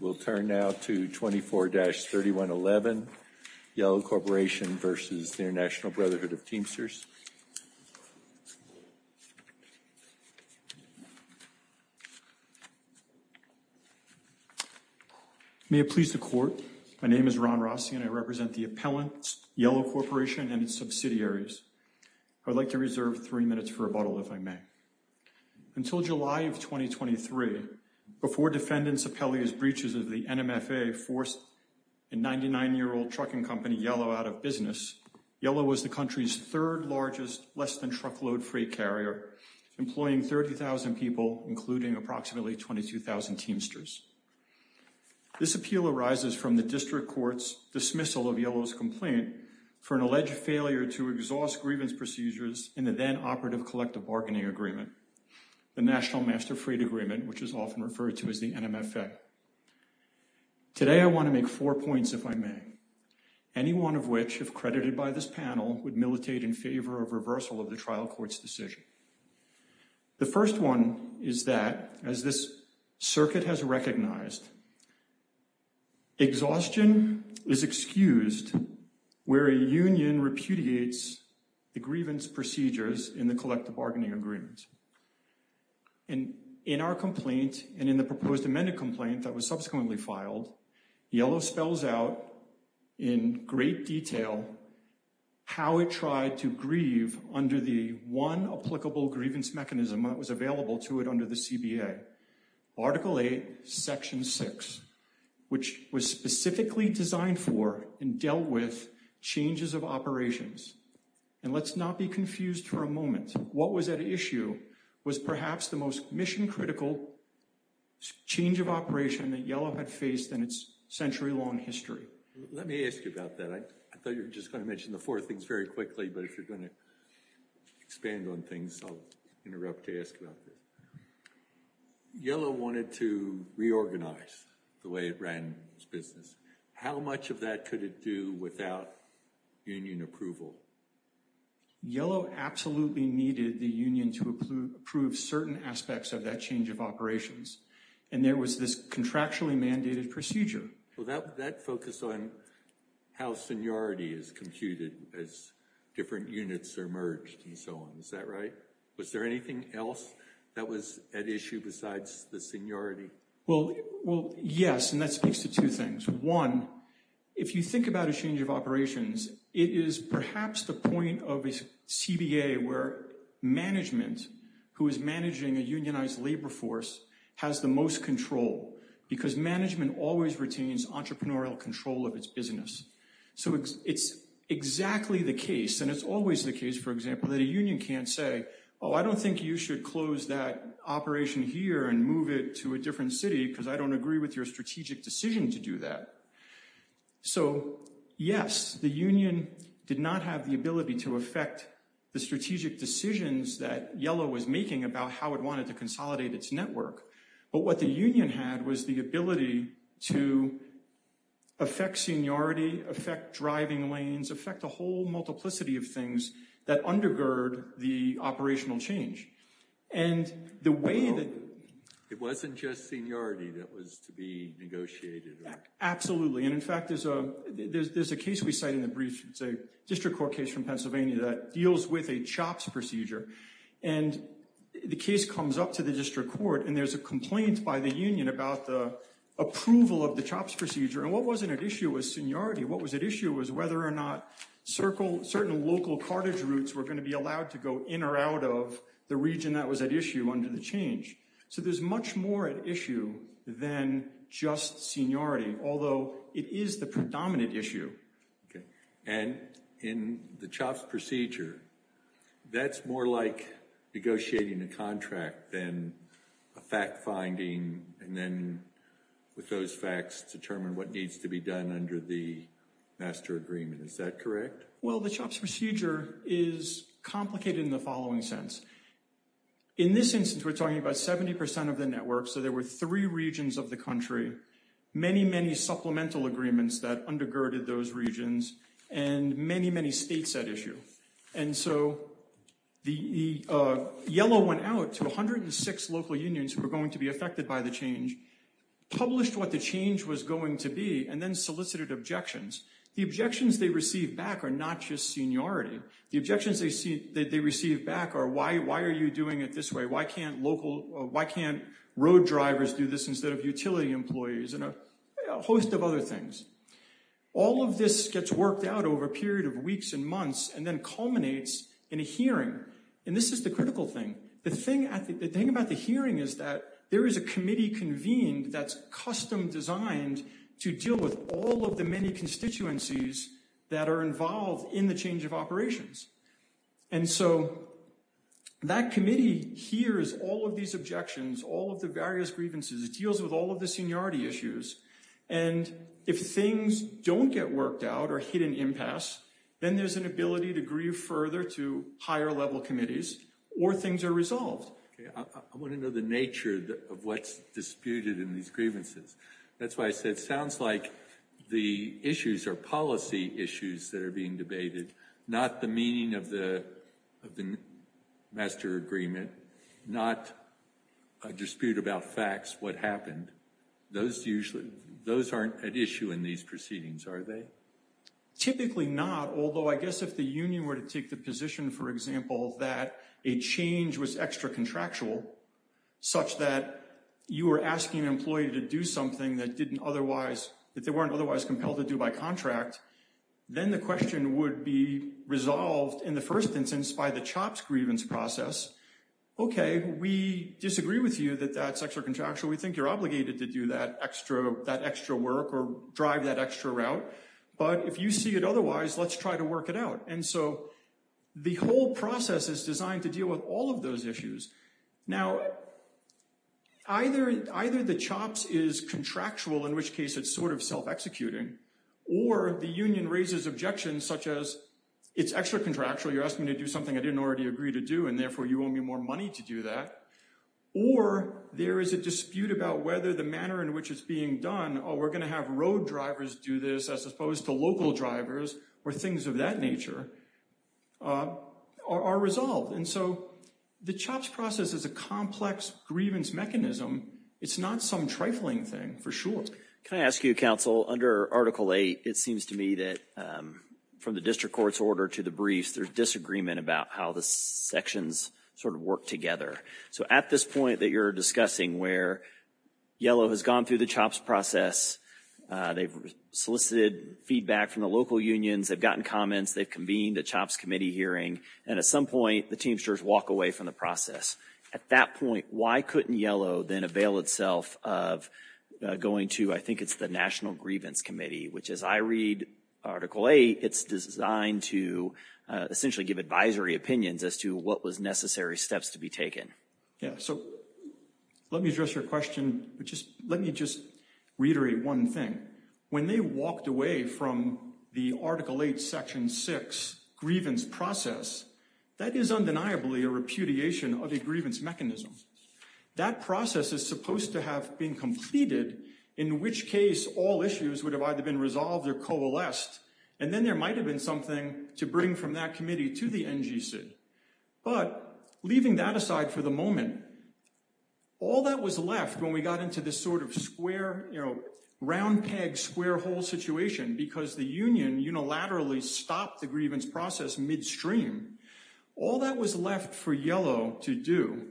We'll turn now to 24-3111, Yellow Corporation v. International Brotherhood of Teamsters. May it please the Court, my name is Ron Rossi and I represent the appellants, Yellow Corporation and its subsidiaries. I would like to reserve three minutes for rebuttal, if I may. Until July of 2023, before defendants' appellee's breaches of the NMFA forced a 99-year-old trucking company, Yellow, out of business, Yellow was the country's third-largest less-than-truckload-free carrier, employing 30,000 people, including approximately 22,000 Teamsters. This appeal arises from the District Court's dismissal of Yellow's complaint for an alleged failure to exhaust grievance procedures in the then-operative collective bargaining agreement, the National Master Freed Agreement, which is often referred to as the NMFA. Today, I want to make four points, if I may, any one of which, if credited by this panel, would militate in favor of reversal of the trial court's decision. The first one is that, as this circuit has recognized, exhaustion is excused where a union repudiates the grievance procedures in the collective bargaining agreement. In our complaint, and in the proposed amended complaint that was subsequently filed, Yellow spells out in great detail how it tried to grieve under the one applicable grievance mechanism that was available to it under the CBA, Article 8, Section 6, which was specifically designed for and dealt with changes of operations. And let's not be confused for a moment. What was at issue was perhaps the most mission-critical change of operation that Yellow had faced in its century-long history. Let me ask you about that. I thought you were just going to mention the four things very quickly, but if you're going to expand on things, I'll interrupt to ask about it. Yellow wanted to reorganize the way it ran its business. How much of that could it do without union approval? Yellow absolutely needed the union to approve certain aspects of that change of operations, and there was this contractually mandated procedure. Well, that focused on how seniority is computed as different units are merged and so on. Is that right? Was there anything else that was at issue besides the seniority? Well, yes, and that speaks to two things. One, if you think about a change of operations, it is perhaps the point of a CBA where management, who is managing a unionized labor force, has the most control, because management always retains entrepreneurial control of its business. So it's exactly the case, and it's always the case, for example, that a union can't say, oh, I don't think you should close that operation here and move it to a different city because I don't agree with your strategic decision to do that. So, yes, the union did not have the ability to affect the strategic decisions that Yellow was making about how it wanted to consolidate its network. But what the union had was the ability to affect seniority, affect driving lanes, affect a whole multiplicity of things that undergird the operational change. And the way that— It wasn't just seniority that was to be negotiated, right? Absolutely. And, in fact, there's a case we cite in the brief. It's a district court case from Pennsylvania that deals with a CHOPS procedure. And the case comes up to the district court, and there's a complaint by the union about the approval of the CHOPS procedure. And what wasn't at issue was seniority. What was at issue was whether or not certain local cartage routes were going to be allowed to go in or out of the region that was at issue under the change. So there's much more at issue than just seniority, although it is the predominant issue. And in the CHOPS procedure, that's more like negotiating a contract than a fact-finding and then, with those facts, determine what needs to be done under the master agreement. Is that correct? Well, the CHOPS procedure is complicated in the following sense. In this instance, we're talking about 70% of the network, so there were three regions of the country, many, many supplemental agreements that undergirded those regions, and many, many states at issue. And so the yellow went out to 106 local unions who were going to be affected by the change, published what the change was going to be, and then solicited objections. The objections they received back are not just seniority. The objections they received back are, why are you doing it this way? Why can't road drivers do this instead of utility employees and a host of other things? All of this gets worked out over a period of weeks and months and then culminates in a hearing, and this is the critical thing. The thing about the hearing is that there is a committee convened that's custom designed to deal with all of the many constituencies that are involved in the change of operations. And so that committee hears all of these objections, all of the various grievances. It deals with all of the seniority issues. And if things don't get worked out or hit an impasse, then there's an ability to grieve further to higher level committees or things are resolved. I want to know the nature of what's disputed in these grievances. That's why I said it sounds like the issues are policy issues that are being debated, not the meaning of the master agreement, not a dispute about facts, what happened. Those usually, those aren't at issue in these proceedings, are they? Typically not, although I guess if the union were to take the position, for example, that a change was extra contractual, such that you were asking an employee to do something that didn't otherwise, that they weren't otherwise compelled to do by contract, then the question would be resolved in the first instance by the CHOPS grievance process. Okay, we disagree with you that that's extra contractual. We think you're obligated to do that extra work or drive that extra route. But if you see it otherwise, let's try to work it out. And so the whole process is designed to deal with all of those issues. Now, either the CHOPS is contractual, in which case it's sort of self-executing, or the union raises objections such as it's extra contractual. You're asking me to do something I didn't already agree to do, and therefore you owe me more money to do that. Or there is a dispute about whether the manner in which it's being done, or we're going to have road drivers do this as opposed to local drivers or things of that nature, are resolved. And so the CHOPS process is a complex grievance mechanism. It's not some trifling thing, for sure. Can I ask you, counsel, under Article 8, it seems to me that from the district court's order to the briefs, there's disagreement about how the sections sort of work together. So at this point that you're discussing where Yellow has gone through the CHOPS process, they've solicited feedback from the local unions, they've gotten comments, they've convened a CHOPS committee hearing, and at some point the Teamsters walk away from the process. At that point, why couldn't Yellow then avail itself of going to, I think it's the National Grievance Committee, which as I read Article 8, it's designed to essentially give advisory opinions as to what was necessary steps to be taken. Yeah, so let me address your question. Let me just reiterate one thing. When they walked away from the Article 8, Section 6 grievance process, that is undeniably a repudiation of a grievance mechanism. That process is supposed to have been completed, in which case all issues would have either been resolved or coalesced, and then there might have been something to bring from that committee to the NGC. But leaving that aside for the moment, all that was left when we got into this sort of square, you know, round peg, square hole situation because the union unilaterally stopped the grievance process midstream, all that was left for Yellow to do.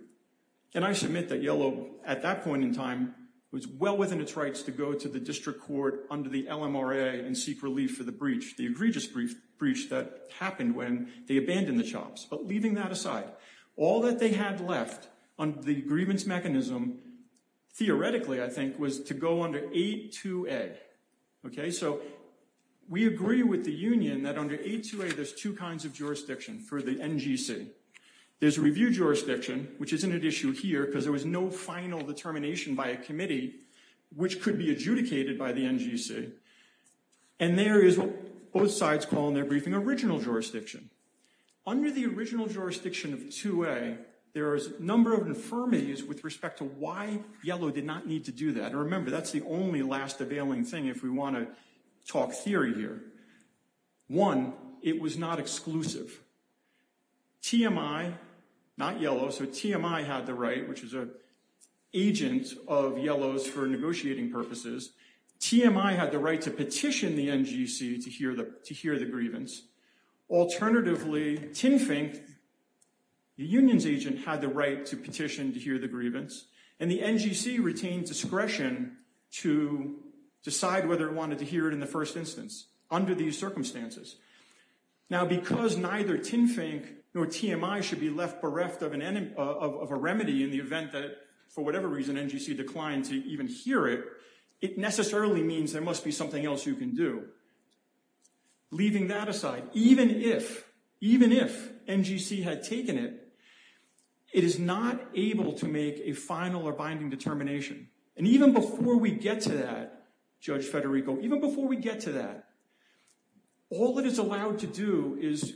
And I submit that Yellow at that point in time was well within its rights to go to the district court under the LMRA and seek relief for the breach, the egregious breach that happened when they abandoned the CHOPS. But leaving that aside, all that they had left on the grievance mechanism, theoretically, I think, was to go under 8-2-A. OK, so we agree with the union that under 8-2-A there's two kinds of jurisdiction for the NGC. There's review jurisdiction, which isn't an issue here because there was no final determination by a committee which could be adjudicated by the NGC. And there is what both sides call in their briefing original jurisdiction. Under the original jurisdiction of 2-A, there is a number of infirmities with respect to why Yellow did not need to do that. And remember, that's the only last availing thing if we want to talk theory here. One, it was not exclusive. TMI, not Yellow, so TMI had the right, which is an agent of Yellow's for negotiating purposes. TMI had the right to petition the NGC to hear the grievance. Alternatively, TINFINC, the union's agent, had the right to petition to hear the grievance. And the NGC retained discretion to decide whether it wanted to hear it in the first instance under these circumstances. Now, because neither TINFINC nor TMI should be left bereft of a remedy in the event that for whatever reason NGC declined to even hear it, it necessarily means there must be something else you can do. Leaving that aside, even if NGC had taken it, it is not able to make a final or binding determination. And even before we get to that, Judge Federico, even before we get to that, all it is allowed to do is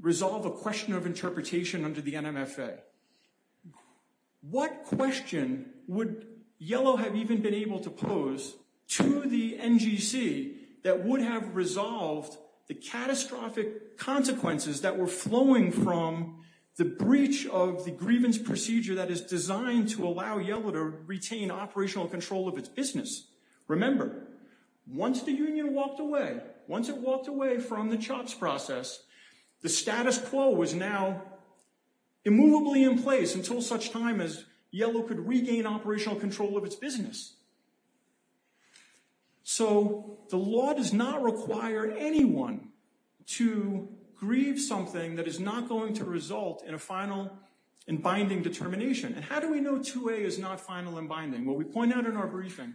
resolve a question of interpretation under the NMFA. What question would Yellow have even been able to pose to the NGC that would have resolved the catastrophic consequences that were flowing from the breach of the grievance procedure that is designed to allow Yellow to retain operational control of its business? Remember, once the union walked away, once it walked away from the CHOPS process, the status quo was now immovably in place until such time as Yellow could regain operational control of its business. So the law does not require anyone to grieve something that is not going to result in a final and binding determination. And how do we know 2A is not final and binding? Well, we point out in our briefing,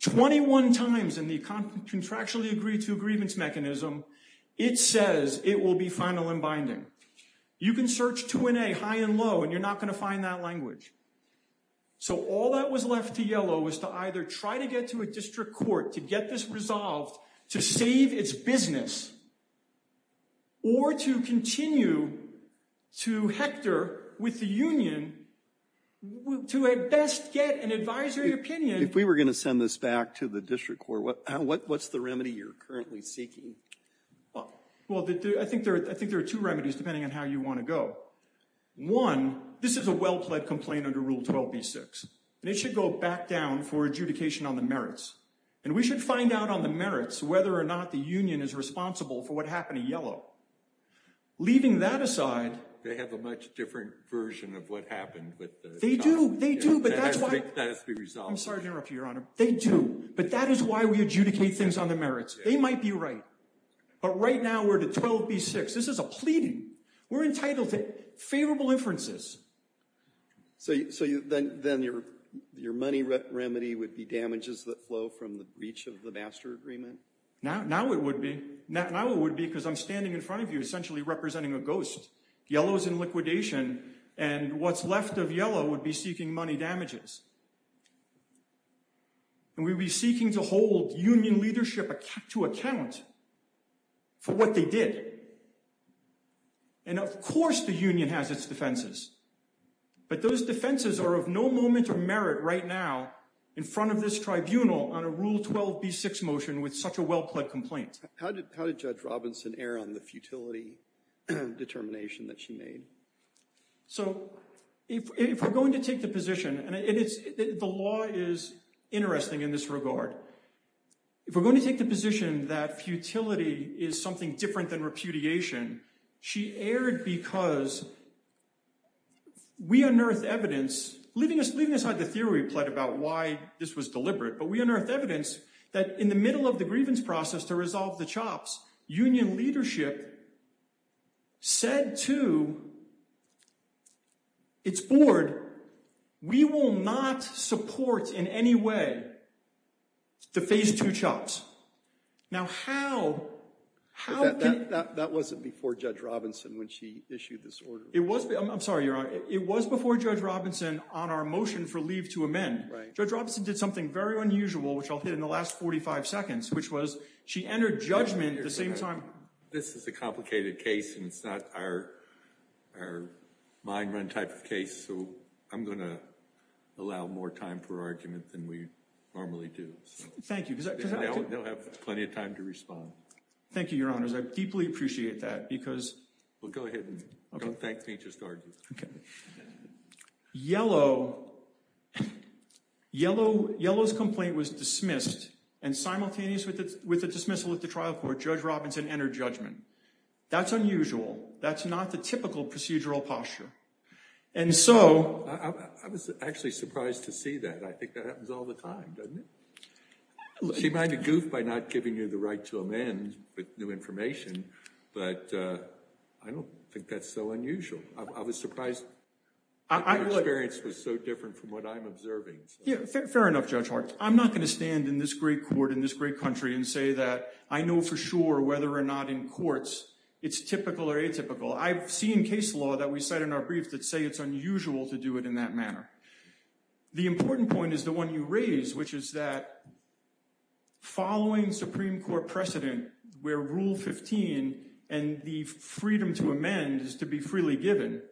21 times in the contractually agreed to grievance mechanism, it says it will be final and binding. You can search 2A high and low and you're not going to find that language. So all that was left to Yellow was to either try to get to a district court to get this resolved to save its business, or to continue to Hector with the union to at best get an advisory opinion. If we were going to send this back to the district court, what's the remedy you're currently seeking? Well, I think there are two remedies depending on how you want to go. One, this is a well-pled complaint under Rule 12b-6, and it should go back down for adjudication on the merits. And we should find out on the merits whether or not the union is responsible for what happened to Yellow. Leaving that aside... They have a much different version of what happened with the... They do, they do, but that's why... That has to be resolved. I'm sorry to interrupt you, Your Honor. They do, but that is why we adjudicate things on the merits. They might be right. But right now we're to 12b-6. This is a pleading. We're entitled to favorable inferences. So then your money remedy would be damages that flow from the breach of the master agreement? Now it would be. Now it would be because I'm standing in front of you essentially representing a ghost. Yellow's in liquidation, and what's left of Yellow would be seeking money damages. And we would be seeking to hold union leadership to account for what they did. And of course the union has its defenses. But those defenses are of no moment of merit right now in front of this tribunal on a Rule 12b-6 motion with such a well-pled complaint. How did Judge Robinson err on the futility determination that she made? So if we're going to take the position, and the law is interesting in this regard, if we're going to take the position that futility is something different than repudiation, she erred because we unearthed evidence, leaving aside the theory we pled about why this was deliberate, but we unearthed evidence that in the middle of the grievance process to resolve the chops, union leadership said to its board, we will not support in any way the Phase 2 chops. Now how? That wasn't before Judge Robinson when she issued this order. I'm sorry, Your Honor. It was before Judge Robinson on our motion for leave to amend. Judge Robinson did something very unusual, which I'll hit in the last 45 seconds, which was she entered judgment at the same time. This is a complicated case, and it's not our mind-run type of case, so I'm going to allow more time for argument than we normally do. Thank you. They'll have plenty of time to respond. Thank you, Your Honors. I deeply appreciate that because— Well, go ahead. Don't thank me. Just argue. Yellow's complaint was dismissed, and simultaneous with the dismissal of the trial court, Judge Robinson entered judgment. That's unusual. That's not the typical procedural posture. I was actually surprised to see that. I think that happens all the time, doesn't it? She might have goofed by not giving you the right to amend with new information, but I don't think that's so unusual. I was surprised that her experience was so different from what I'm observing. Fair enough, Judge Hart. I'm not going to stand in this great court in this great country and say that I know for sure whether or not in courts it's typical or atypical. I've seen case law that we cite in our briefs that say it's unusual to do it in that manner. The important point is the one you raised, which is that following Supreme Court precedent where Rule 15 and the freedom to amend is to be freely given,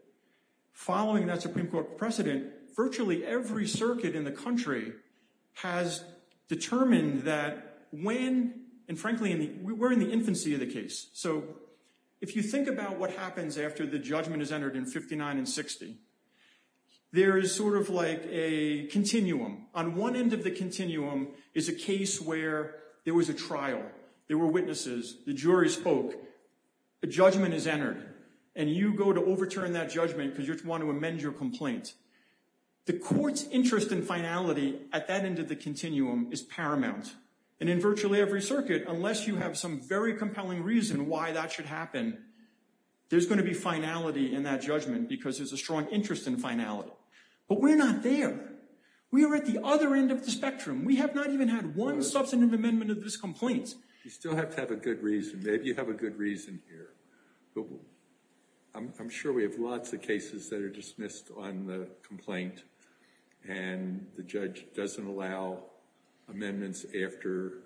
following that Supreme Court precedent, virtually every circuit in the country has determined that when, and frankly we're in the infancy of the case, so if you think about what happens after the judgment is entered in 59 and 60, there is sort of like a continuum. On one end of the continuum is a case where there was a trial. There were witnesses. The jury spoke. A judgment is entered, and you go to overturn that judgment because you want to amend your complaint. The court's interest in finality at that end of the continuum is paramount, and in virtually every circuit, unless you have some very compelling reason why that should happen, there's going to be finality in that judgment because there's a strong interest in finality. But we're not there. We are at the other end of the spectrum. We have not even had one substantive amendment of this complaint. You still have to have a good reason. Maybe you have a good reason here. I'm sure we have lots of cases that are dismissed on the complaint, and the judge doesn't allow amendments after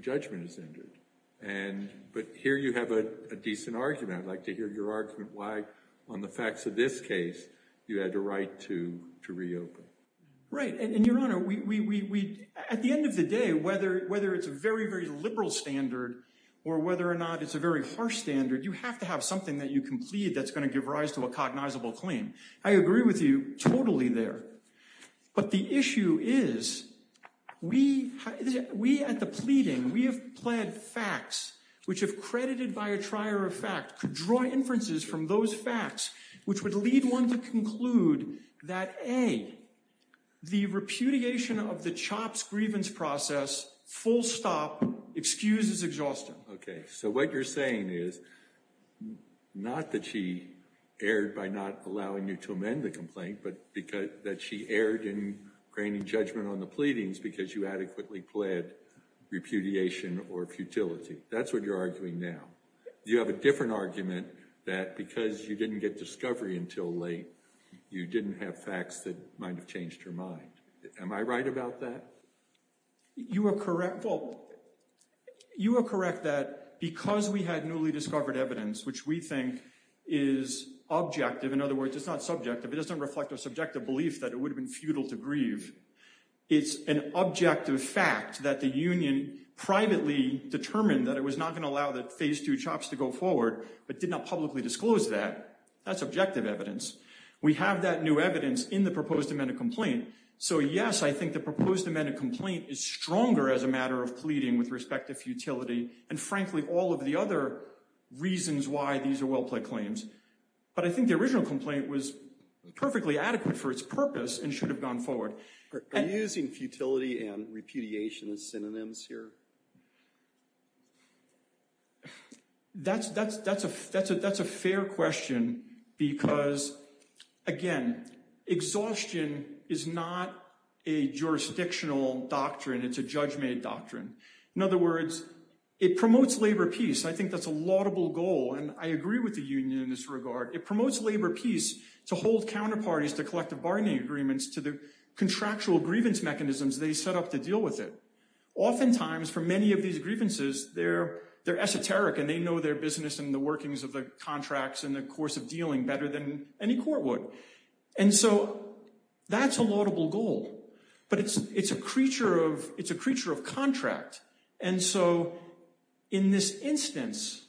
judgment is entered. But here you have a decent argument. I'd like to hear your argument why on the facts of this case you had a right to reopen. Right. And, Your Honor, at the end of the day, whether it's a very, very liberal standard or whether or not it's a very harsh standard, you have to have something that you can plead that's going to give rise to a cognizable claim. I agree with you totally there. But the issue is we at the pleading, we have pled facts which, if credited by a trier of fact, could draw inferences from those facts, which would lead one to conclude that, A, the repudiation of the Chopp's grievance process, full stop, excuses exhaustion. Okay. So what you're saying is not that she erred by not allowing you to amend the complaint, but that she erred in graining judgment on the pleadings because you adequately pled repudiation or futility. That's what you're arguing now. You have a different argument that because you didn't get discovery until late, you didn't have facts that might have changed her mind. Am I right about that? You are correct. Well, you are correct that because we had newly discovered evidence, which we think is objective, in other words, it's not subjective. It doesn't reflect a subjective belief that it would have been futile to grieve. It's an objective fact that the union privately determined that it was not going to allow that Phase II Chopp's to go forward, but did not publicly disclose that. That's objective evidence. We have that new evidence in the proposed amended complaint. So, yes, I think the proposed amended complaint is stronger as a matter of pleading with respect to futility and, frankly, all of the other reasons why these are well-plaid claims. But I think the original complaint was perfectly adequate for its purpose and should have gone forward. Are you using futility and repudiation as synonyms here? That's a fair question because, again, exhaustion is not a jurisdictional doctrine. It's a judgment doctrine. In other words, it promotes labor peace. I think that's a laudable goal. And I agree with the union in this regard. It promotes labor peace to hold counterparties to collective bargaining agreements to the contractual grievance mechanisms they set up to deal with it. Oftentimes, for many of these grievances, they're esoteric and they know their business and the workings of the contracts and the course of dealing better than any court would. And so that's a laudable goal. But it's a creature of contract. And so in this instance,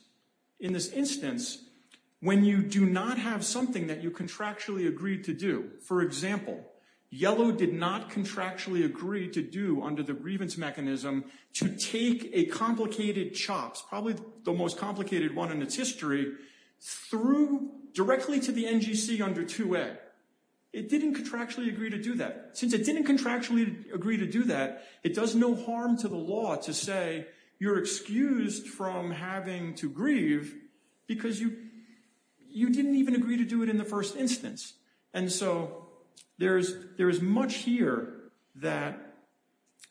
when you do not have something that you contractually agree to do, for example, Yellow did not contractually agree to do under the grievance mechanism to take a complicated chops, probably the most complicated one in its history, through directly to the NGC under 2A. It didn't contractually agree to do that. Since it didn't contractually agree to do that, it does no harm to the law to say you're excused from having to grieve because you didn't even agree to do it in the first instance. And so there is much here that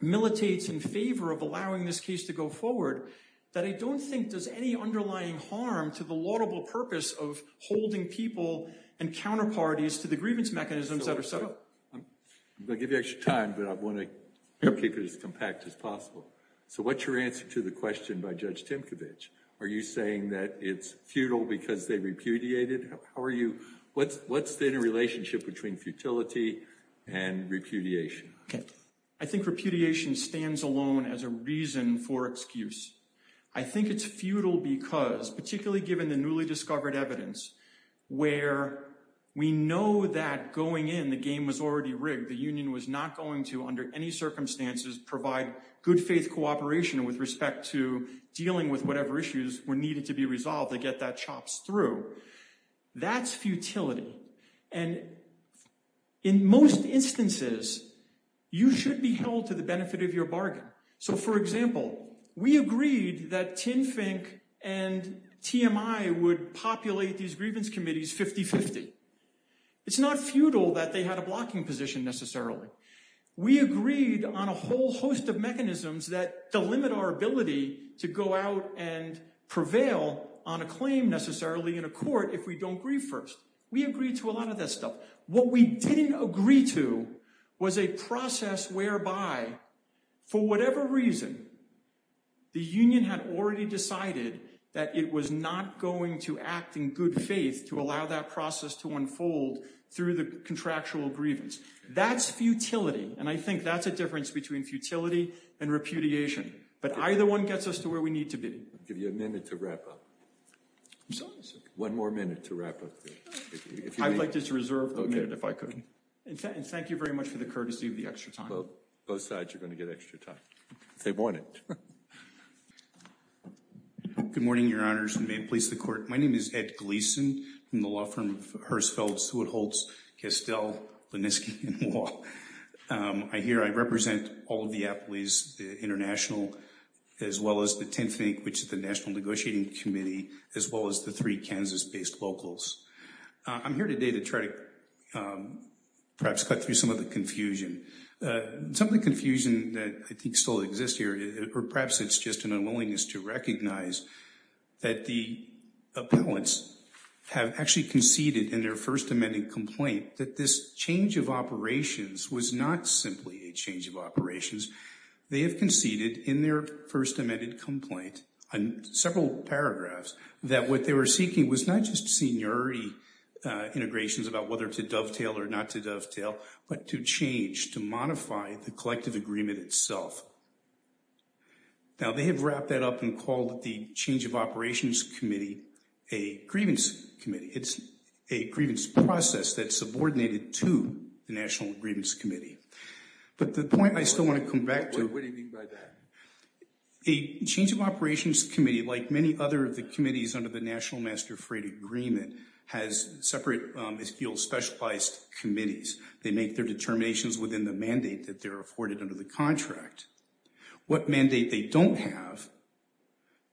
militates in favor of allowing this case to go forward that I don't think does any underlying harm to the laudable purpose of holding people and counterparties to the grievance mechanisms that are set up. I'm going to give you extra time, but I want to keep it as compact as possible. So what's your answer to the question by Judge Timkovich? Are you saying that it's futile because they repudiated? How are you – what's the interrelationship between futility and repudiation? I think repudiation stands alone as a reason for excuse. I think it's futile because, particularly given the newly discovered evidence, where we know that going in, the game was already rigged. The union was not going to, under any circumstances, provide good faith cooperation with respect to dealing with whatever issues were needed to be resolved to get that chops through. That's futility. And in most instances, you should be held to the benefit of your bargain. So, for example, we agreed that TINFINC and TMI would populate these grievance committees 50-50. It's not futile that they had a blocking position necessarily. We agreed on a whole host of mechanisms that delimit our ability to go out and prevail on a claim necessarily in a court if we don't grieve first. We agreed to a lot of that stuff. What we didn't agree to was a process whereby, for whatever reason, the union had already decided that it was not going to act in good faith to allow that process to unfold through the contractual grievance. That's futility, and I think that's a difference between futility and repudiation. But either one gets us to where we need to be. I'll give you a minute to wrap up. I'm sorry, sir. One more minute to wrap up. I'd like to reserve the minute if I could. And thank you very much for the courtesy of the extra time. Both sides are going to get extra time if they want it. Good morning, Your Honors, and may it please the Court. My name is Ed Gleeson from the law firm of Hirsfeld, Seward Holtz, Kestel, Linniski & Law. I hear I represent all of the Appleys, the International, as well as the TINFINC, which is the National Negotiating Committee, as well as the three Kansas-based locals. I'm here today to try to perhaps cut through some of the confusion. Some of the confusion that I think still exists here, or perhaps it's just an unwillingness to recognize, that the appellants have actually conceded in their first amended complaint that this change of operations was not simply a change of operations. They have conceded in their first amended complaint, in several paragraphs, that what they were seeking was not just seniority integrations about whether to dovetail or not to dovetail, but to change, to modify the collective agreement itself. Now, they have wrapped that up and called the Change of Operations Committee a grievance committee. It's a grievance process that's subordinated to the National Grievance Committee. But the point I still want to come back to... What do you mean by that? A Change of Operations Committee, like many other of the committees under the National Master Freight Agreement, has separate, is field specialized committees. They make their determinations within the mandate that they're afforded under the contract. What mandate they don't have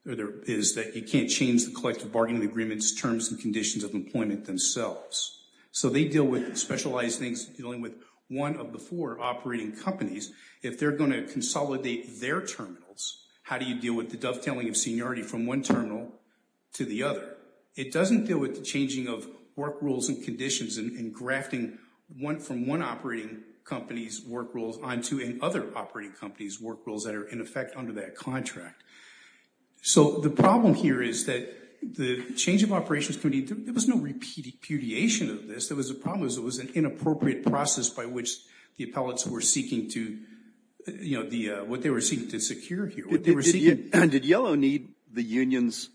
is that you can't change the collective bargaining agreements, terms and conditions of employment themselves. So they deal with specialized things dealing with one of the four operating companies. If they're going to consolidate their terminals, how do you deal with the dovetailing of seniority from one terminal to the other? It doesn't deal with the changing of work rules and conditions and grafting from one operating company's work rules onto another operating company's work rules that are in effect under that contract. So the problem here is that the Change of Operations Committee, there was no repudiation of this. The problem was it was an inappropriate process by which the appellates were seeking to secure here. Did Yellow need the union's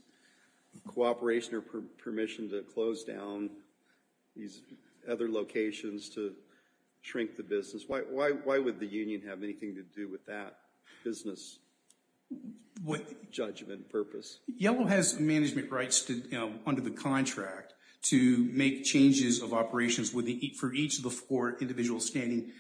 cooperation or permission to close down these other locations to shrink the business? Why would the union have anything to do with that business judgment purpose? Yellow has management rights under the contract to make changes of operations for each of the four individual standing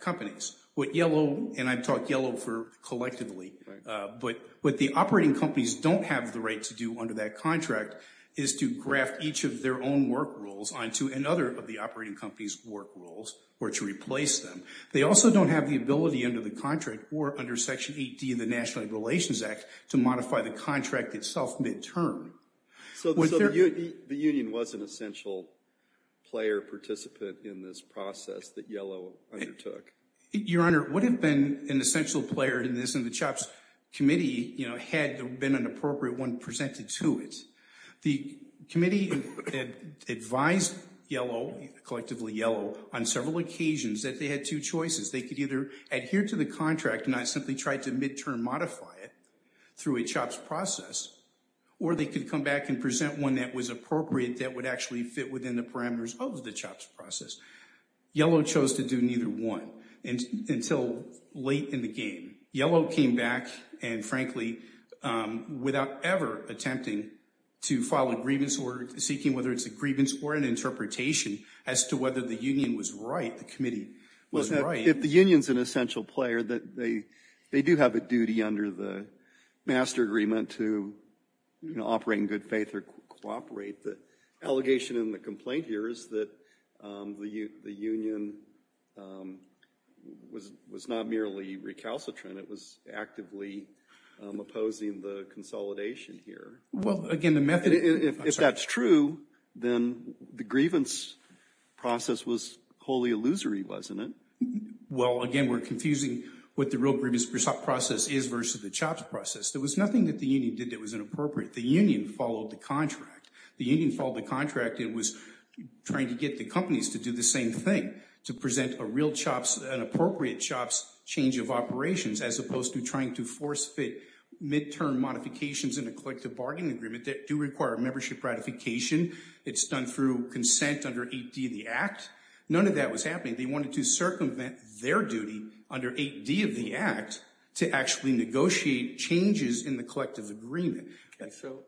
companies. What Yellow, and I talk Yellow for collectively, but what the operating companies don't have the right to do under that contract is to graft each of their own work rules onto another of the operating company's work rules or to replace them. They also don't have the ability under the contract or under Section 8D of the National Relations Act to modify the contract itself midterm. So the union was an essential player participant in this process that Yellow undertook? Your Honor, it would have been an essential player in this, and the CHOPS committee had been an appropriate one presented to it. The committee advised Yellow, collectively Yellow, on several occasions that they had two choices. They could either adhere to the contract and not simply try to midterm modify it through a CHOPS process, or they could come back and present one that was appropriate, that would actually fit within the parameters of the CHOPS process. Yellow chose to do neither one until late in the game. Yellow came back, and frankly, without ever attempting to file a grievance order, seeking whether it's a grievance or an interpretation as to whether the union was right, the committee was right. If the union's an essential player, they do have a duty under the master agreement to, you know, operate in good faith or cooperate. The allegation in the complaint here is that the union was not merely recalcitrant. It was actively opposing the consolidation here. If that's true, then the grievance process was wholly illusory, wasn't it? Well, again, we're confusing what the real grievance process is versus the CHOPS process. There was nothing that the union did that was inappropriate. The union followed the contract. The union followed the contract and was trying to get the companies to do the same thing, to present a real CHOPS, an appropriate CHOPS change of operations, as opposed to trying to force-fit midterm modifications in a collective bargaining agreement that do require membership ratification. It's done through consent under 8D of the Act. None of that was happening. They wanted to circumvent their duty under 8D of the Act to actually negotiate changes in the collective agreement. So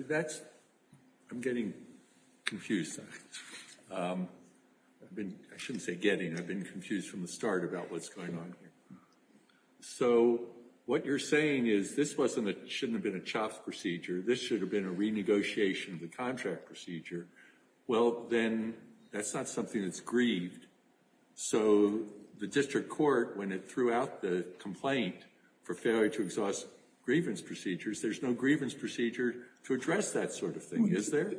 that's – I'm getting confused. I shouldn't say getting. I've been confused from the start about what's going on here. So what you're saying is this wasn't a – shouldn't have been a CHOPS procedure. This should have been a renegotiation of the contract procedure. Well, then, that's not something that's grieved. So the district court, when it threw out the complaint for failure to exhaust grievance procedures, there's no grievance procedure to address that sort of thing, is there?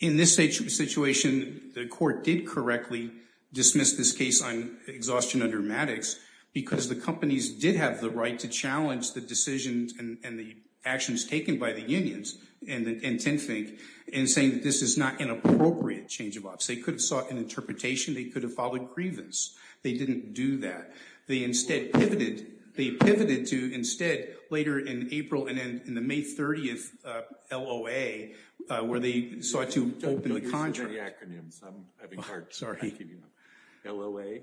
In this situation, the court did correctly dismiss this case on exhaustion under Maddox because the companies did have the right to challenge the decisions and the actions taken by the unions and TINFINC in saying that this is not an appropriate change of office. They could have sought an interpretation. They could have followed grievance. They didn't do that. They pivoted to instead later in April and in the May 30th LOA where they sought to open the contract. Don't use too many acronyms. I'm having hard time keeping up. LOA?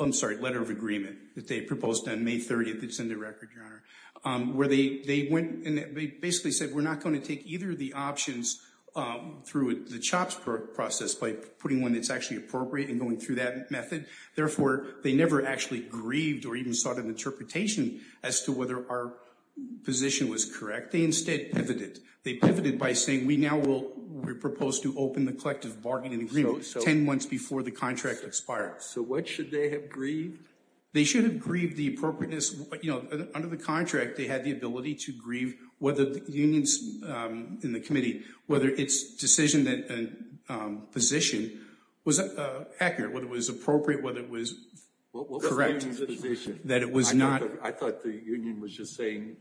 I'm sorry, letter of agreement that they proposed on May 30th. It's in their record, Your Honor. Where they went and they basically said we're not going to take either of the options through the CHOPS process by putting one that's actually appropriate and going through that method. Therefore, they never actually grieved or even sought an interpretation as to whether our position was correct. They instead pivoted. They pivoted by saying we now will propose to open the collective bargaining agreement 10 months before the contract expires. So what should they have grieved? They should have grieved the appropriateness. Under the contract, they had the ability to grieve whether the unions in the committee, whether its decision and position was accurate, whether it was appropriate, whether it was correct. What was the union's position? That it was not. I thought the union was just saying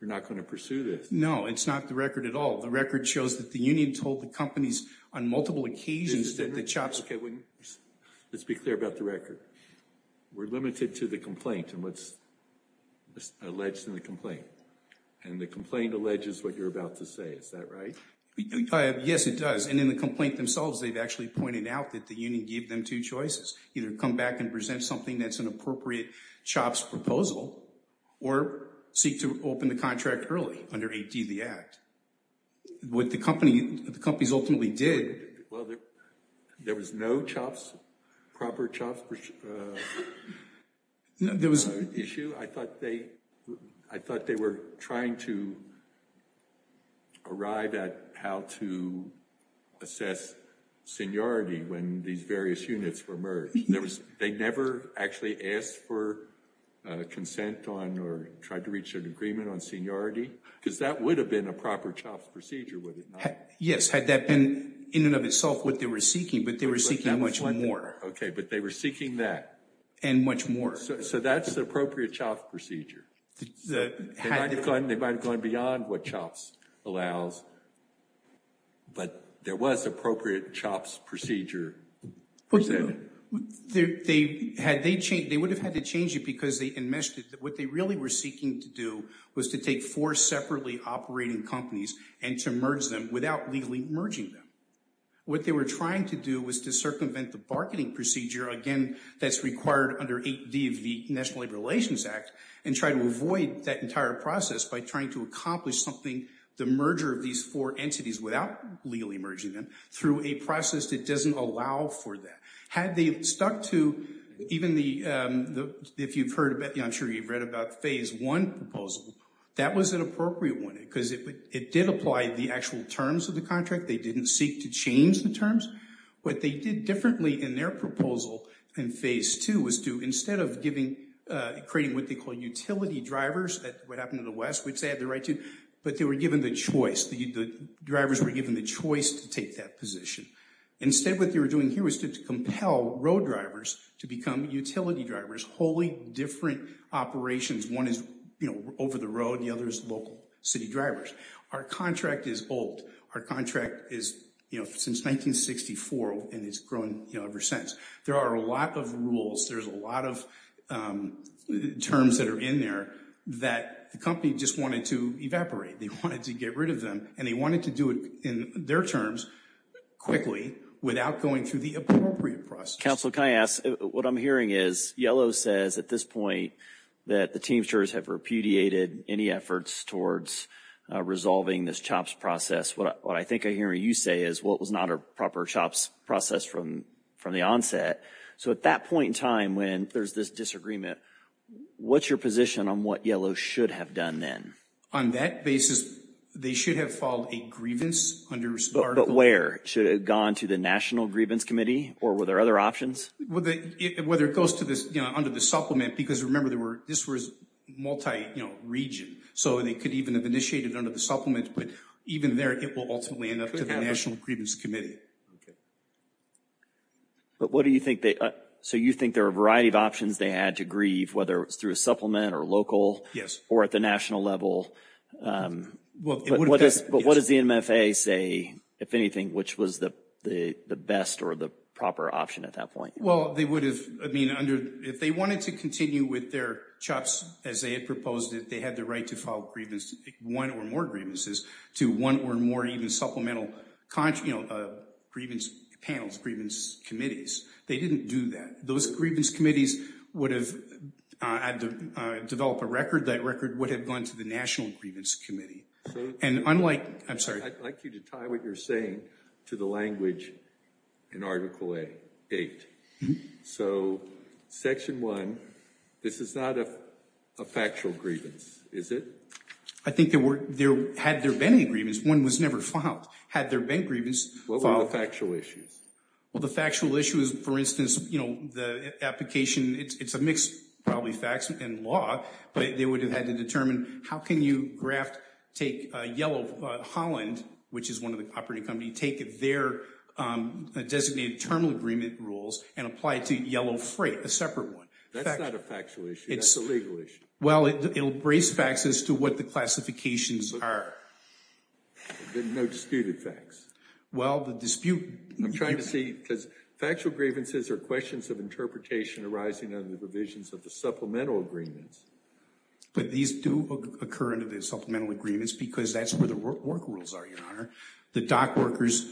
we're not going to pursue this. No, it's not the record at all. The record shows that the union told the companies on multiple occasions that the CHOPS could win. Let's be clear about the record. We're limited to the complaint and what's alleged in the complaint. And the complaint alleges what you're about to say. Is that right? Yes, it does. And in the complaint themselves, they've actually pointed out that the union gave them two choices. Either come back and present something that's an appropriate CHOPS proposal or seek to open the contract early under AD the Act. What the companies ultimately did. Well, there was no CHOPS, proper CHOPS issue. I thought they were trying to arrive at how to assess seniority when these various units were merged. They never actually asked for consent on or tried to reach an agreement on seniority? Because that would have been a proper CHOPS procedure, would it not? Yes, had that been in and of itself what they were seeking, but they were seeking much more. Okay, but they were seeking that. And much more. So that's the appropriate CHOPS procedure. They might have gone beyond what CHOPS allows, but there was appropriate CHOPS procedure. They would have had to change it because they enmeshed it. What they really were seeking to do was to take four separately operating companies and to merge them without legally merging them. What they were trying to do was to circumvent the marketing procedure, again, that's required under AD of the National Labor Relations Act, and try to avoid that entire process by trying to accomplish something, the merger of these four entities without legally merging them, through a process that doesn't allow for that. Had they stuck to even the, if you've heard about, I'm sure you've read about Phase 1 proposal. That was an appropriate one because it did apply the actual terms of the contract. They didn't seek to change the terms. What they did differently in their proposal in Phase 2 was to, instead of creating what they call utility drivers, what happened in the West, which they had the right to, but they were given the choice. The drivers were given the choice to take that position. Instead what they were doing here was to compel road drivers to become utility drivers, wholly different operations. One is over the road, the other is local city drivers. Our contract is old. Our contract is, you know, since 1964 and has grown, you know, ever since. There are a lot of rules. There's a lot of terms that are in there that the company just wanted to evaporate. They wanted to get rid of them, and they wanted to do it in their terms quickly without going through the appropriate process. Counsel, can I ask, what I'm hearing is Yellow says at this point that the teamsters have repudiated any efforts towards resolving this CHOPS process. What I think I hear you say is, well, it was not a proper CHOPS process from the onset. So at that point in time when there's this disagreement, what's your position on what Yellow should have done then? On that basis, they should have filed a grievance under SPARTA. But where? Should it have gone to the National Grievance Committee, or were there other options? Whether it goes to this, you know, under the supplement, because remember this was multi-region. So they could even have initiated under the supplement, but even there it will ultimately end up to the National Grievance Committee. But what do you think they, so you think there are a variety of options they had to grieve, whether it's through a supplement or local or at the national level. But what does the NMFA say, if anything, which was the best or the proper option at that point? Well, they would have, I mean, under, if they wanted to continue with their CHOPS as they had proposed it, they had the right to file grievance, one or more grievances, to one or more even supplemental, you know, grievance panels, grievance committees. They didn't do that. Those grievance committees would have had to develop a record. That record would have gone to the National Grievance Committee. And unlike, I'm sorry. I'd like you to tie what you're saying to the language in Article 8. So Section 1, this is not a factual grievance, is it? I think there were, had there been any grievance, one was never filed. Had there been grievance, filed. What were the factual issues? Well, the factual issue is, for instance, you know, the application, it's a mixed, probably, facts and law, but they would have had to determine how can you graft, take Yellow Holland, which is one of the operating companies, take their designated terminal agreement rules and apply it to Yellow Freight, a separate one. That's not a factual issue. That's a legal issue. Well, it'll brace facts as to what the classifications are. No disputed facts. Well, the dispute. I'm trying to see, because factual grievances are questions of interpretation arising under the provisions of the supplemental agreements. But these do occur under the supplemental agreements because that's where the work rules are, Your Honor. The dock workers,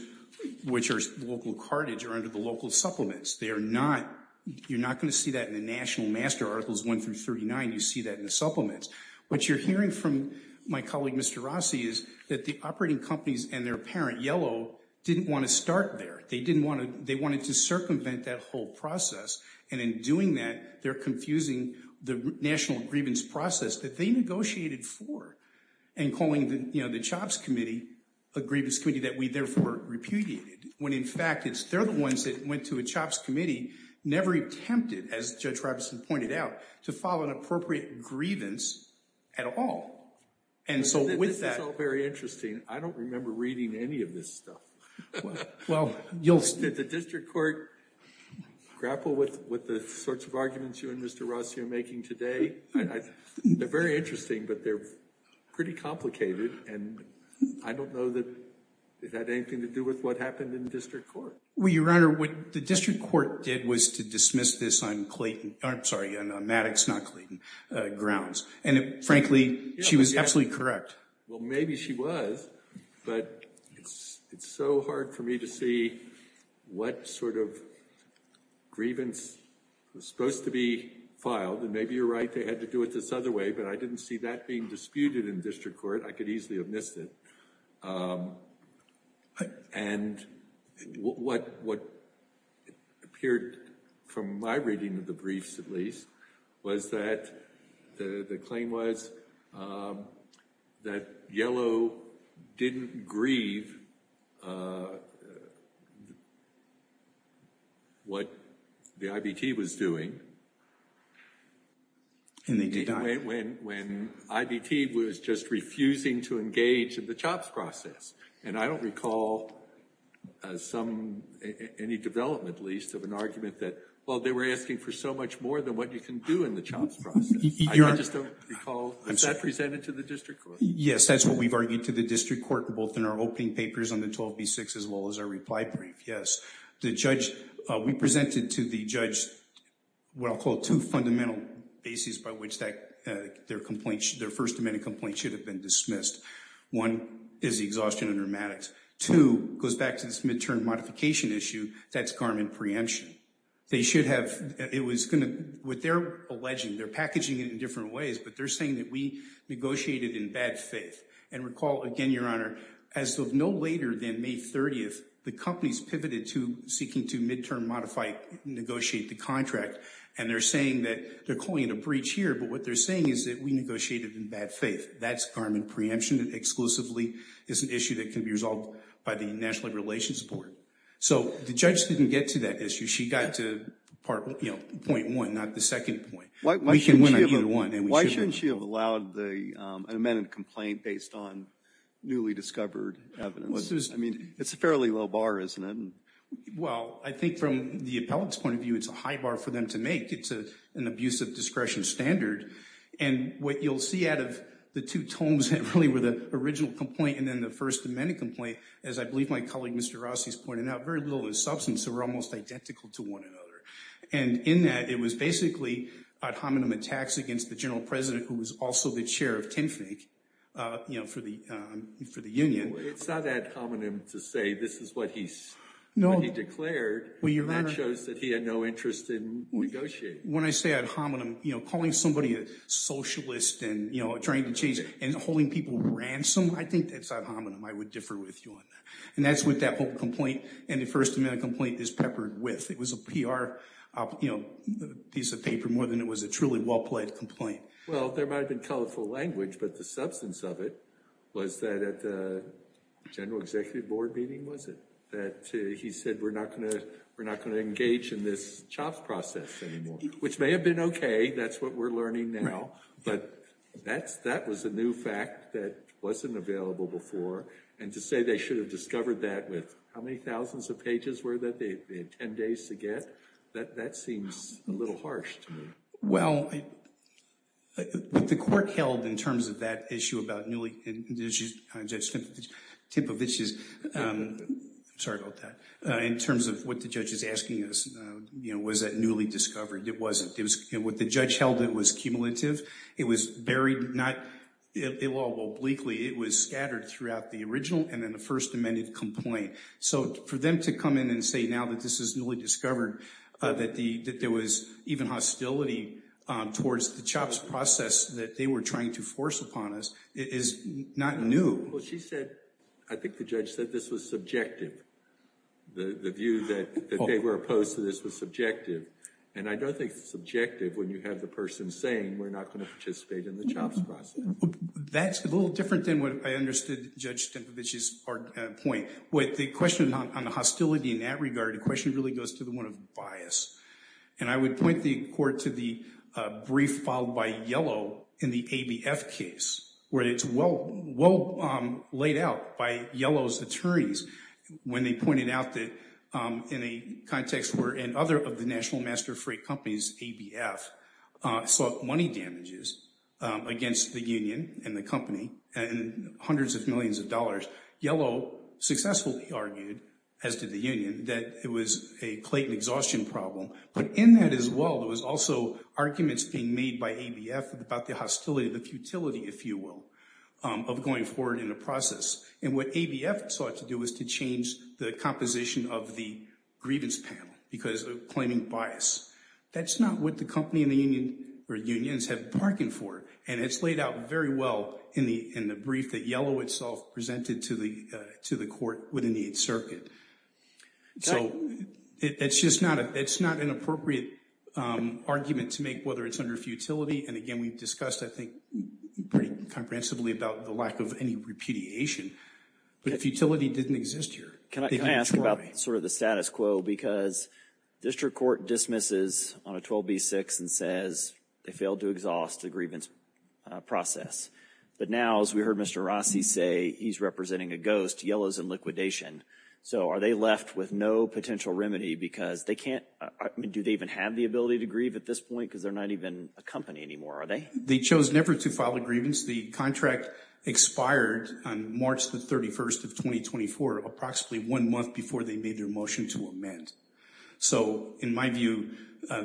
which are local cartage, are under the local supplements. They are not, you're not going to see that in the National Master Articles 1 through 39. You see that in the supplements. What you're hearing from my colleague, Mr. Rossi, is that the operating companies and their parent, Yellow, didn't want to start there. They didn't want to, they wanted to circumvent that whole process. And in doing that, they're confusing the national grievance process that they negotiated for, and calling the, you know, the CHOPS committee a grievance committee that we therefore repudiated, when in fact it's, they're the ones that went to a CHOPS committee, never attempted, as Judge Robinson pointed out, to file an appropriate grievance at all. And so with that— This is all very interesting. I don't remember reading any of this stuff. Well, you'll— Did the district court grapple with the sorts of arguments you and Mr. Rossi are making today? They're very interesting, but they're pretty complicated, and I don't know that it had anything to do with what happened in district court. Well, Your Honor, what the district court did was to dismiss this on Clayton—I'm sorry, on Maddox, not Clayton grounds. And frankly, she was absolutely correct. Well, maybe she was, but it's so hard for me to see what sort of grievance was supposed to be filed. And maybe you're right, they had to do it this other way, but I didn't see that being disputed in district court. I could easily have missed it. And what appeared, from my reading of the briefs at least, was that the claim was that Yellow didn't grieve what the IBT was doing— And they did not. —when IBT was just refusing to engage in the CHOPS process. And I don't recall any development, at least, of an argument that, well, they were asking for so much more than what you can do in the CHOPS process. I just don't recall—was that presented to the district court? Yes, that's what we've argued to the district court, both in our opening papers on the 12b-6 as well as our reply brief, yes. We presented to the judge what I'll call two fundamental bases by which their first amendment complaint should have been dismissed. One is the exhaustion and rheumatics. Two goes back to this midterm modification issue, that's garment preemption. They should have—it was going to—what they're alleging, they're packaging it in different ways, but they're saying that we negotiated in bad faith. And recall, again, Your Honor, as of no later than May 30th, the companies pivoted to seeking to midterm modify—negotiate the contract. And they're saying that—they're calling it a breach here, but what they're saying is that we negotiated in bad faith. That's garment preemption. It exclusively is an issue that can be resolved by the National Labor Relations Board. So the judge didn't get to that issue. She got to part—you know, point one, not the second point. Why shouldn't she have allowed the—an amended complaint based on newly discovered evidence? I mean, it's a fairly low bar, isn't it? Well, I think from the appellant's point of view, it's a high bar for them to make. It's an abusive discretion standard. And what you'll see out of the two tomes that really were the original complaint and then the first amended complaint, as I believe my colleague, Mr. Rossi, has pointed out, very little is substance. They were almost identical to one another. And in that, it was basically ad hominem attacks against the general president, who was also the chair of TINFIG, you know, for the union. Well, it's not ad hominem to say this is what he declared. That shows that he had no interest in negotiating. When I say ad hominem, you know, calling somebody a socialist and, you know, trying to change—and holding people ransom, I think that's ad hominem. I would differ with you on that. And that's what that whole complaint and the first amended complaint is peppered with. It was a PR, you know, piece of paper more than it was a truly well-played complaint. Well, there might have been colorful language, but the substance of it was that at the general executive board meeting, was it, that he said we're not going to engage in this chops process anymore, which may have been okay. That's what we're learning now. But that was a new fact that wasn't available before. And to say they should have discovered that with how many thousands of pages were that they had 10 days to get? That seems a little harsh to me. Well, what the court held in terms of that issue about newly—Tinpovich's—I'm sorry about that. In terms of what the judge is asking us, you know, was that newly discovered? It wasn't. What the judge held, it was cumulative. It was buried not—well, obliquely. It was scattered throughout the original and then the first amended complaint. So for them to come in and say now that this is newly discovered that there was even hostility towards the chops process that they were trying to force upon us is not new. Well, she said—I think the judge said this was subjective. The view that they were opposed to this was subjective. And I don't think it's subjective when you have the person saying we're not going to participate in the chops process. That's a little different than what I understood Judge Tinpovich's point. With the question on the hostility in that regard, the question really goes to the one of bias. And I would point the court to the brief filed by Yellow in the ABF case where it's well laid out by Yellow's attorneys when they pointed out that in a context where— of the National Master Freight Company's ABF sought money damages against the union and the company and hundreds of millions of dollars, Yellow successfully argued, as did the union, that it was a Clayton exhaustion problem. But in that as well, there was also arguments being made by ABF about the hostility, the futility, if you will, of going forward in the process. And what ABF sought to do was to change the composition of the grievance panel because of claiming bias. That's not what the company and the union or unions have bargained for. And it's laid out very well in the brief that Yellow itself presented to the court within the 8th Circuit. So it's just not an appropriate argument to make whether it's under futility. And again, we've discussed, I think, pretty comprehensively about the lack of any repudiation. But if futility didn't exist here— Can I ask about sort of the status quo? Because district court dismisses on a 12b-6 and says they failed to exhaust the grievance process. But now, as we heard Mr. Rossi say, he's representing a ghost. Yellow's in liquidation. So are they left with no potential remedy because they can't—do they even have the ability to grieve at this point because they're not even a company anymore, are they? They chose never to file a grievance. The contract expired on March the 31st of 2024, approximately one month before they made their motion to amend. So in my view,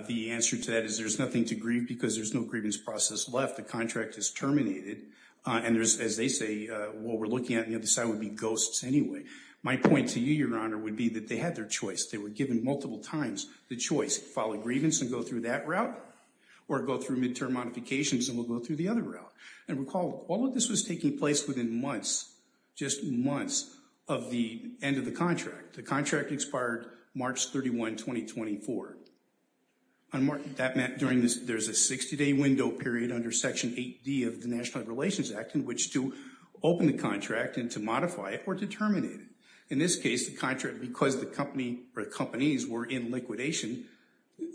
the answer to that is there's nothing to grieve because there's no grievance process left. The contract is terminated. And as they say, what we're looking at on the other side would be ghosts anyway. My point to you, Your Honor, would be that they had their choice. They were given multiple times the choice. File a grievance and go through that route or go through midterm modifications and we'll go through the other route. And recall, all of this was taking place within months, just months of the end of the contract. The contract expired March 31, 2024. There's a 60-day window period under Section 8D of the National Relations Act in which to open the contract and to modify it or to terminate it. In this case, the contract, because the company or companies were in liquidation,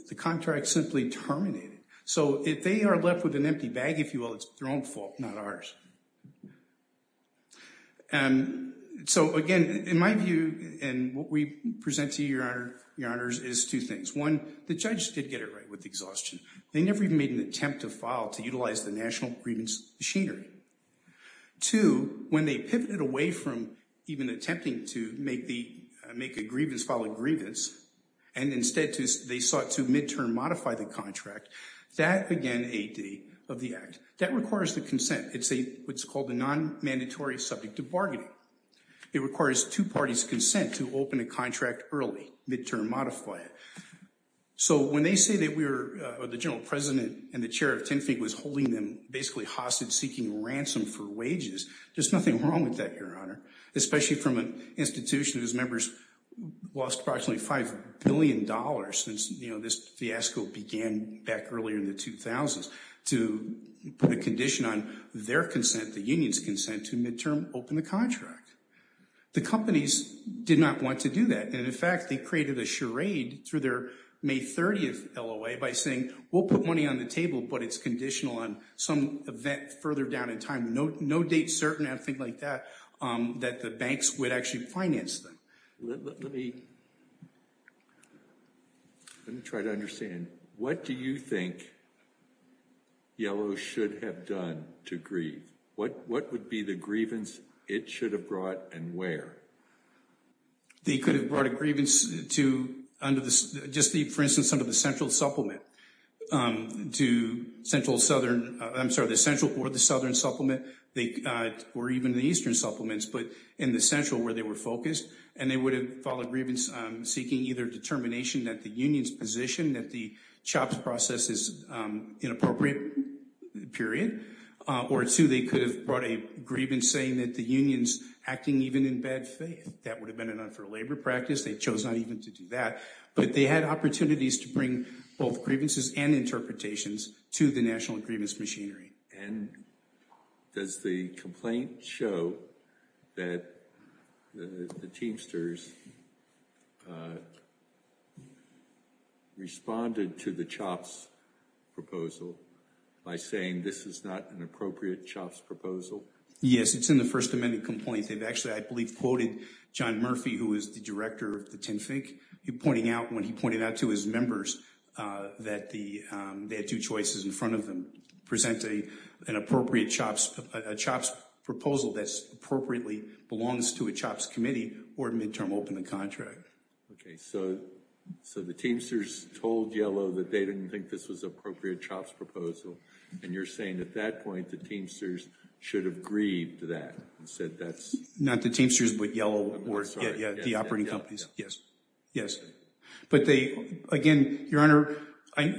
the contract simply terminated. So if they are left with an empty bag, if you will, it's their own fault, not ours. So again, in my view and what we present to you, Your Honor, is two things. One, the judge did get it right with exhaustion. They never even made an attempt to file to utilize the national grievance machinery. Two, when they pivoted away from even attempting to make a grievance, file a grievance, and instead they sought to midterm modify the contract, that began 8D of the Act. That requires the consent. It's what's called a non-mandatory subject to bargaining. It requires two parties' consent to open a contract early, midterm modify it. So when they say that we were, or the general president and the chair of TNFIG was holding them basically hostage-seeking ransom for wages, there's nothing wrong with that, Your Honor, especially from an institution whose members lost approximately $5 billion since, you know, this fiasco began back earlier in the 2000s to put a condition on their consent, the union's consent, to midterm open the contract. The companies did not want to do that. And, in fact, they created a charade through their May 30th LOA by saying we'll put money on the table, but it's conditional on some event further down in time. No date certain or anything like that, that the banks would actually finance them. Let me try to understand. What do you think Yellow should have done to grieve? What would be the grievance it should have brought and where? They could have brought a grievance to under the, just the, for instance, under the central supplement, to central southern, I'm sorry, the central or the southern supplement, or even the eastern supplements, but in the central where they were focused, and they would have filed a grievance seeking either determination that the union's position, that the chops process is inappropriate, period, or two, they could have brought a grievance saying that the union's acting even in bad faith. That would have been an unfair labor practice. They chose not even to do that. But they had opportunities to bring both grievances and interpretations to the national grievance machinery. And does the complaint show that the Teamsters responded to the chops proposal by saying this is not an appropriate chops proposal? Yes, it's in the First Amendment complaint. They've actually, I believe, quoted John Murphy, who is the director of the TNFIC, pointing out when he pointed out to his members that the, they had two choices in front of them, present an appropriate chops, a chops proposal that's appropriately belongs to a chops committee or midterm open a contract. Okay, so the Teamsters told Yellow that they didn't think this was an appropriate chops proposal. And you're saying at that point the Teamsters should have grieved that and said that's. Not the Teamsters, but Yellow, the operating companies. Yes. But they, again, Your Honor, I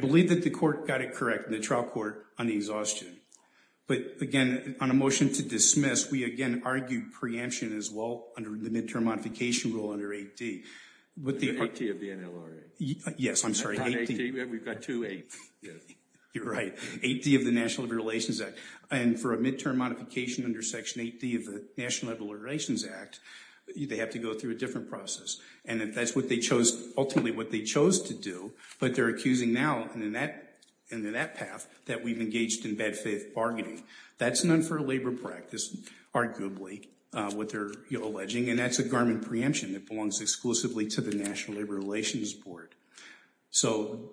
believe that the court got it correct in the trial court on the exhaustion. But, again, on a motion to dismiss, we, again, argued preemption as well under the midterm modification rule under 8D. Under 8D of the NLRA. Yes, I'm sorry. We've got two 8s. You're right. 8D of the National Labor Relations Act. And for a midterm modification under Section 8D of the National Labor Relations Act, they have to go through a different process. And that's what they chose, ultimately what they chose to do. But they're accusing now, and in that path, that we've engaged in bad faith bargaining. That's an unfair labor practice, arguably, what they're alleging. And that's a garment preemption that belongs exclusively to the National Labor Relations Board. So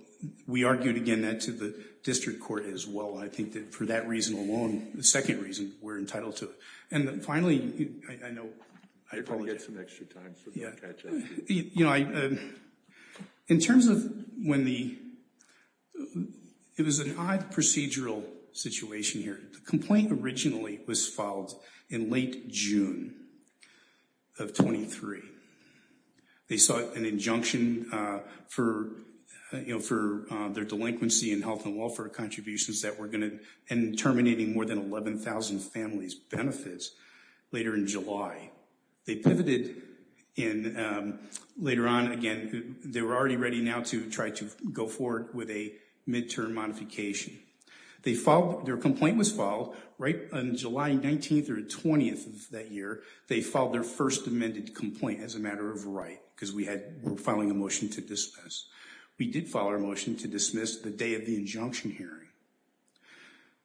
we argued, again, that to the district court as well. I think that for that reason alone, the second reason, we're entitled to it. And finally, I know. You're going to get some extra time for that catch up. You know, in terms of when the, it was an odd procedural situation here. The complaint originally was filed in late June of 23. They sought an injunction for, you know, for their delinquency and health and welfare contributions that were going to, and terminating more than 11,000 families' benefits later in July. They pivoted in, later on, again, they were already ready now to try to go forward with a midterm modification. They filed, their complaint was filed right on July 19th or 20th of that year. They filed their first amended complaint as a matter of right, because we had, we're filing a motion to dismiss. We did file our motion to dismiss the day of the injunction hearing.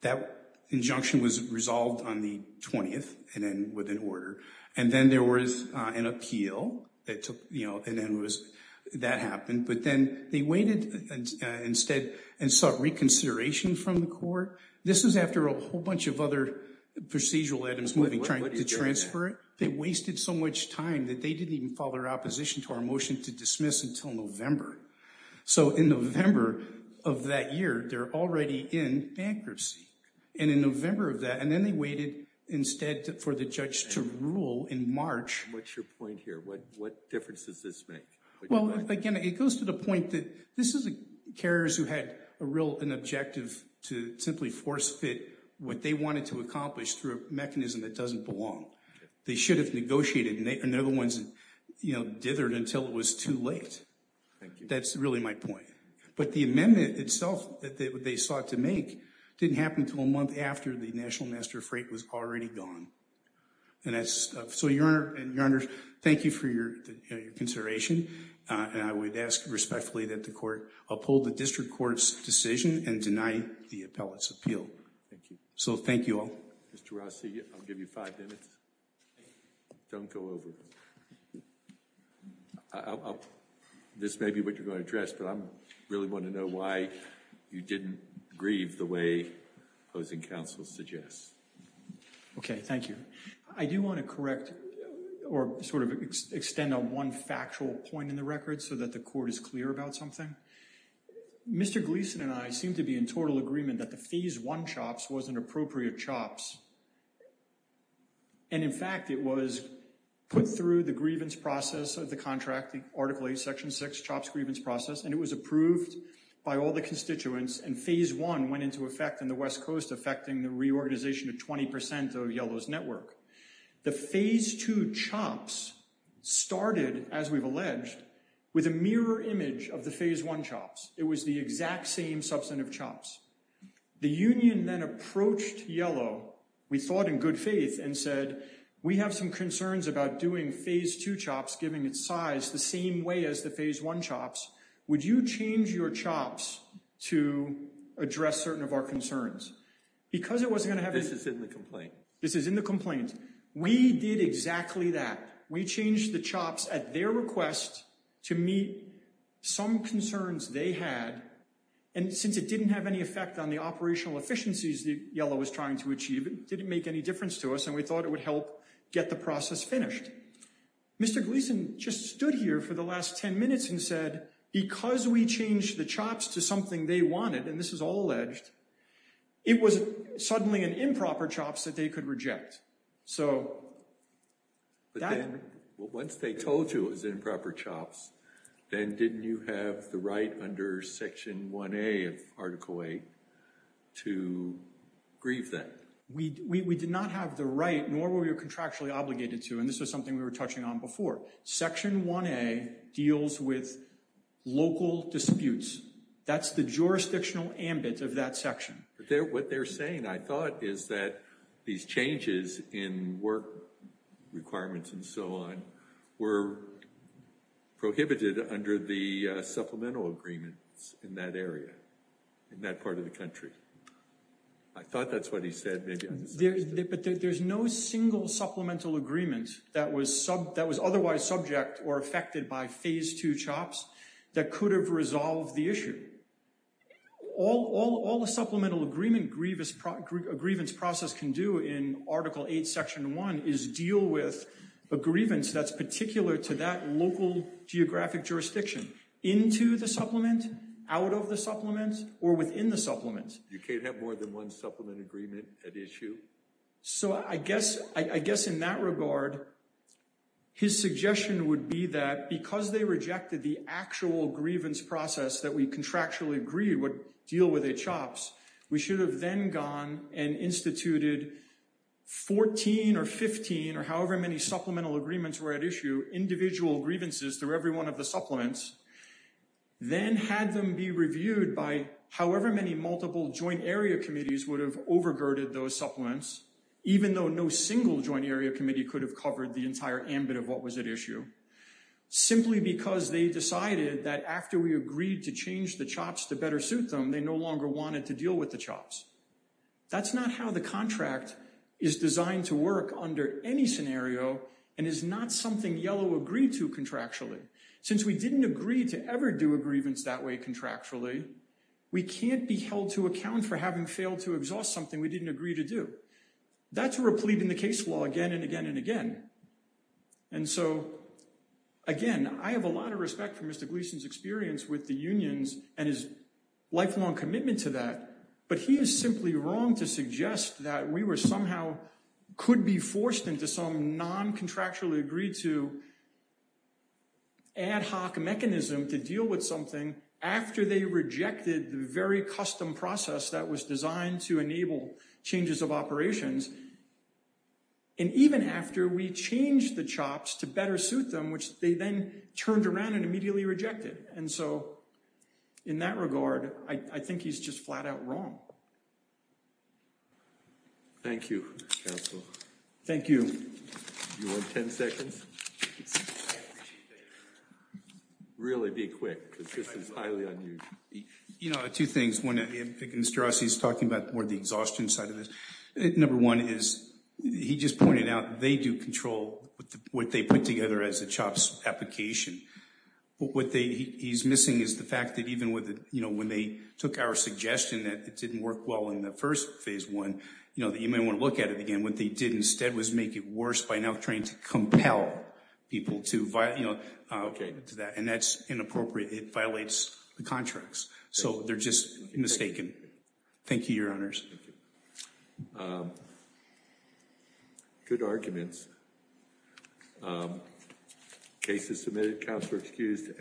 That injunction was resolved on the 20th and then within order. And then there was an appeal that took, you know, and then it was, that happened. But then they waited instead and sought reconsideration from the court. This is after a whole bunch of other procedural items moving, trying to transfer it. They wasted so much time that they didn't even file their opposition to our motion to dismiss until November. So, in November of that year, they're already in bankruptcy. And in November of that, and then they waited instead for the judge to rule in March. What's your point here? What difference does this make? Well, again, it goes to the point that this is carriers who had a real, an objective to simply force fit what they wanted to accomplish through a mechanism that doesn't belong. They should have negotiated, and they're the ones that, you know, dithered until it was too late. Thank you. That's really my point. But the amendment itself that they sought to make didn't happen until a month after the National Master Freight was already gone. And that's, so, Your Honor, thank you for your consideration. And I would ask respectfully that the court uphold the district court's decision and deny the appellate's appeal. Thank you. So, thank you all. Mr. Rossi, I'll give you five minutes. Don't go over. This may be what you're going to address, but I really want to know why you didn't grieve the way opposing counsel suggests. Okay, thank you. I do want to correct or sort of extend on one factual point in the record so that the court is clear about something. Mr. Gleeson and I seem to be in total agreement that the Phase I CHOPS was an appropriate CHOPS. And, in fact, it was put through the grievance process of the contract, Article 8, Section 6, CHOPS grievance process, and it was approved by all the constituents, and Phase I went into effect in the West Coast, affecting the reorganization of 20% of Yellow's network. The Phase II CHOPS started, as we've alleged, with a mirror image of the Phase I CHOPS. It was the exact same substantive CHOPS. The union then approached Yellow, we thought in good faith, and said, we have some concerns about doing Phase II CHOPS giving its size the same way as the Phase I CHOPS. Would you change your CHOPS to address certain of our concerns? Because it wasn't going to have a… This is in the complaint. This is in the complaint. We did exactly that. We changed the CHOPS at their request to meet some concerns they had, and since it didn't have any effect on the operational efficiencies that Yellow was trying to achieve, it didn't make any difference to us, and we thought it would help get the process finished. Mr. Gleeson just stood here for the last 10 minutes and said, because we changed the CHOPS to something they wanted, and this is all alleged, it was suddenly an improper CHOPS that they could reject. Once they told you it was improper CHOPS, then didn't you have the right under Section 1A of Article 8 to grieve them? We did not have the right, nor were we contractually obligated to, and this was something we were touching on before. Section 1A deals with local disputes. That's the jurisdictional ambit of that section. What they're saying, I thought, is that these changes in work requirements and so on were prohibited under the supplemental agreements in that area, in that part of the country. I thought that's what he said. But there's no single supplemental agreement that was otherwise subject or affected by Phase 2 CHOPS that could have resolved the issue. All a supplemental agreement grievance process can do in Article 8, Section 1, is deal with a grievance that's particular to that local geographic jurisdiction into the supplement, out of the supplement, or within the supplement. You can't have more than one supplement agreement at issue? So I guess in that regard, his suggestion would be that because they rejected the actual grievance process that we contractually agreed would deal with at CHOPS, we should have then gone and instituted 14 or 15, or however many supplemental agreements were at issue, individual grievances through every one of the supplements, then had them be reviewed by however many multiple joint area committees would have overgirded those supplements, even though no single joint area committee could have covered the entire ambit of what was at issue, simply because they decided that after we agreed to change the CHOPS to better suit them, they no longer wanted to deal with the CHOPS. That's not how the contract is designed to work under any scenario and is not something Yellow agreed to contractually. Since we didn't agree to ever do a grievance that way contractually, we can't be held to account for having failed to exhaust something we didn't agree to do. That's a replete in the case law again and again and again. And so, again, I have a lot of respect for Mr. Gleason's experience with the unions and his lifelong commitment to that, but he is simply wrong to suggest that we were somehow, could be forced into some non-contractually agreed to ad hoc mechanism to deal with something after they rejected the very custom process that was designed to enable changes of operations, and even after we changed the CHOPS to better suit them, which they then turned around and immediately rejected. And so in that regard, I think he's just flat out wrong. Thank you, Councillor. Thank you. You want 10 seconds? I appreciate that. Really be quick because this is highly unusual. You know, two things. One, Mr. Rossi is talking about more the exhaustion side of this. Number one is he just pointed out they do control what they put together as a CHOPS application. What he's missing is the fact that even when they took our suggestion that it didn't work well in the first Phase 1, you know, that you may want to look at it again. And what they did instead was make it worse by now trying to compel people to, you know, to that. And that's inappropriate. It violates the contracts. So they're just mistaken. Thank you, Your Honours. Good arguments. Case is submitted. Councillors excused.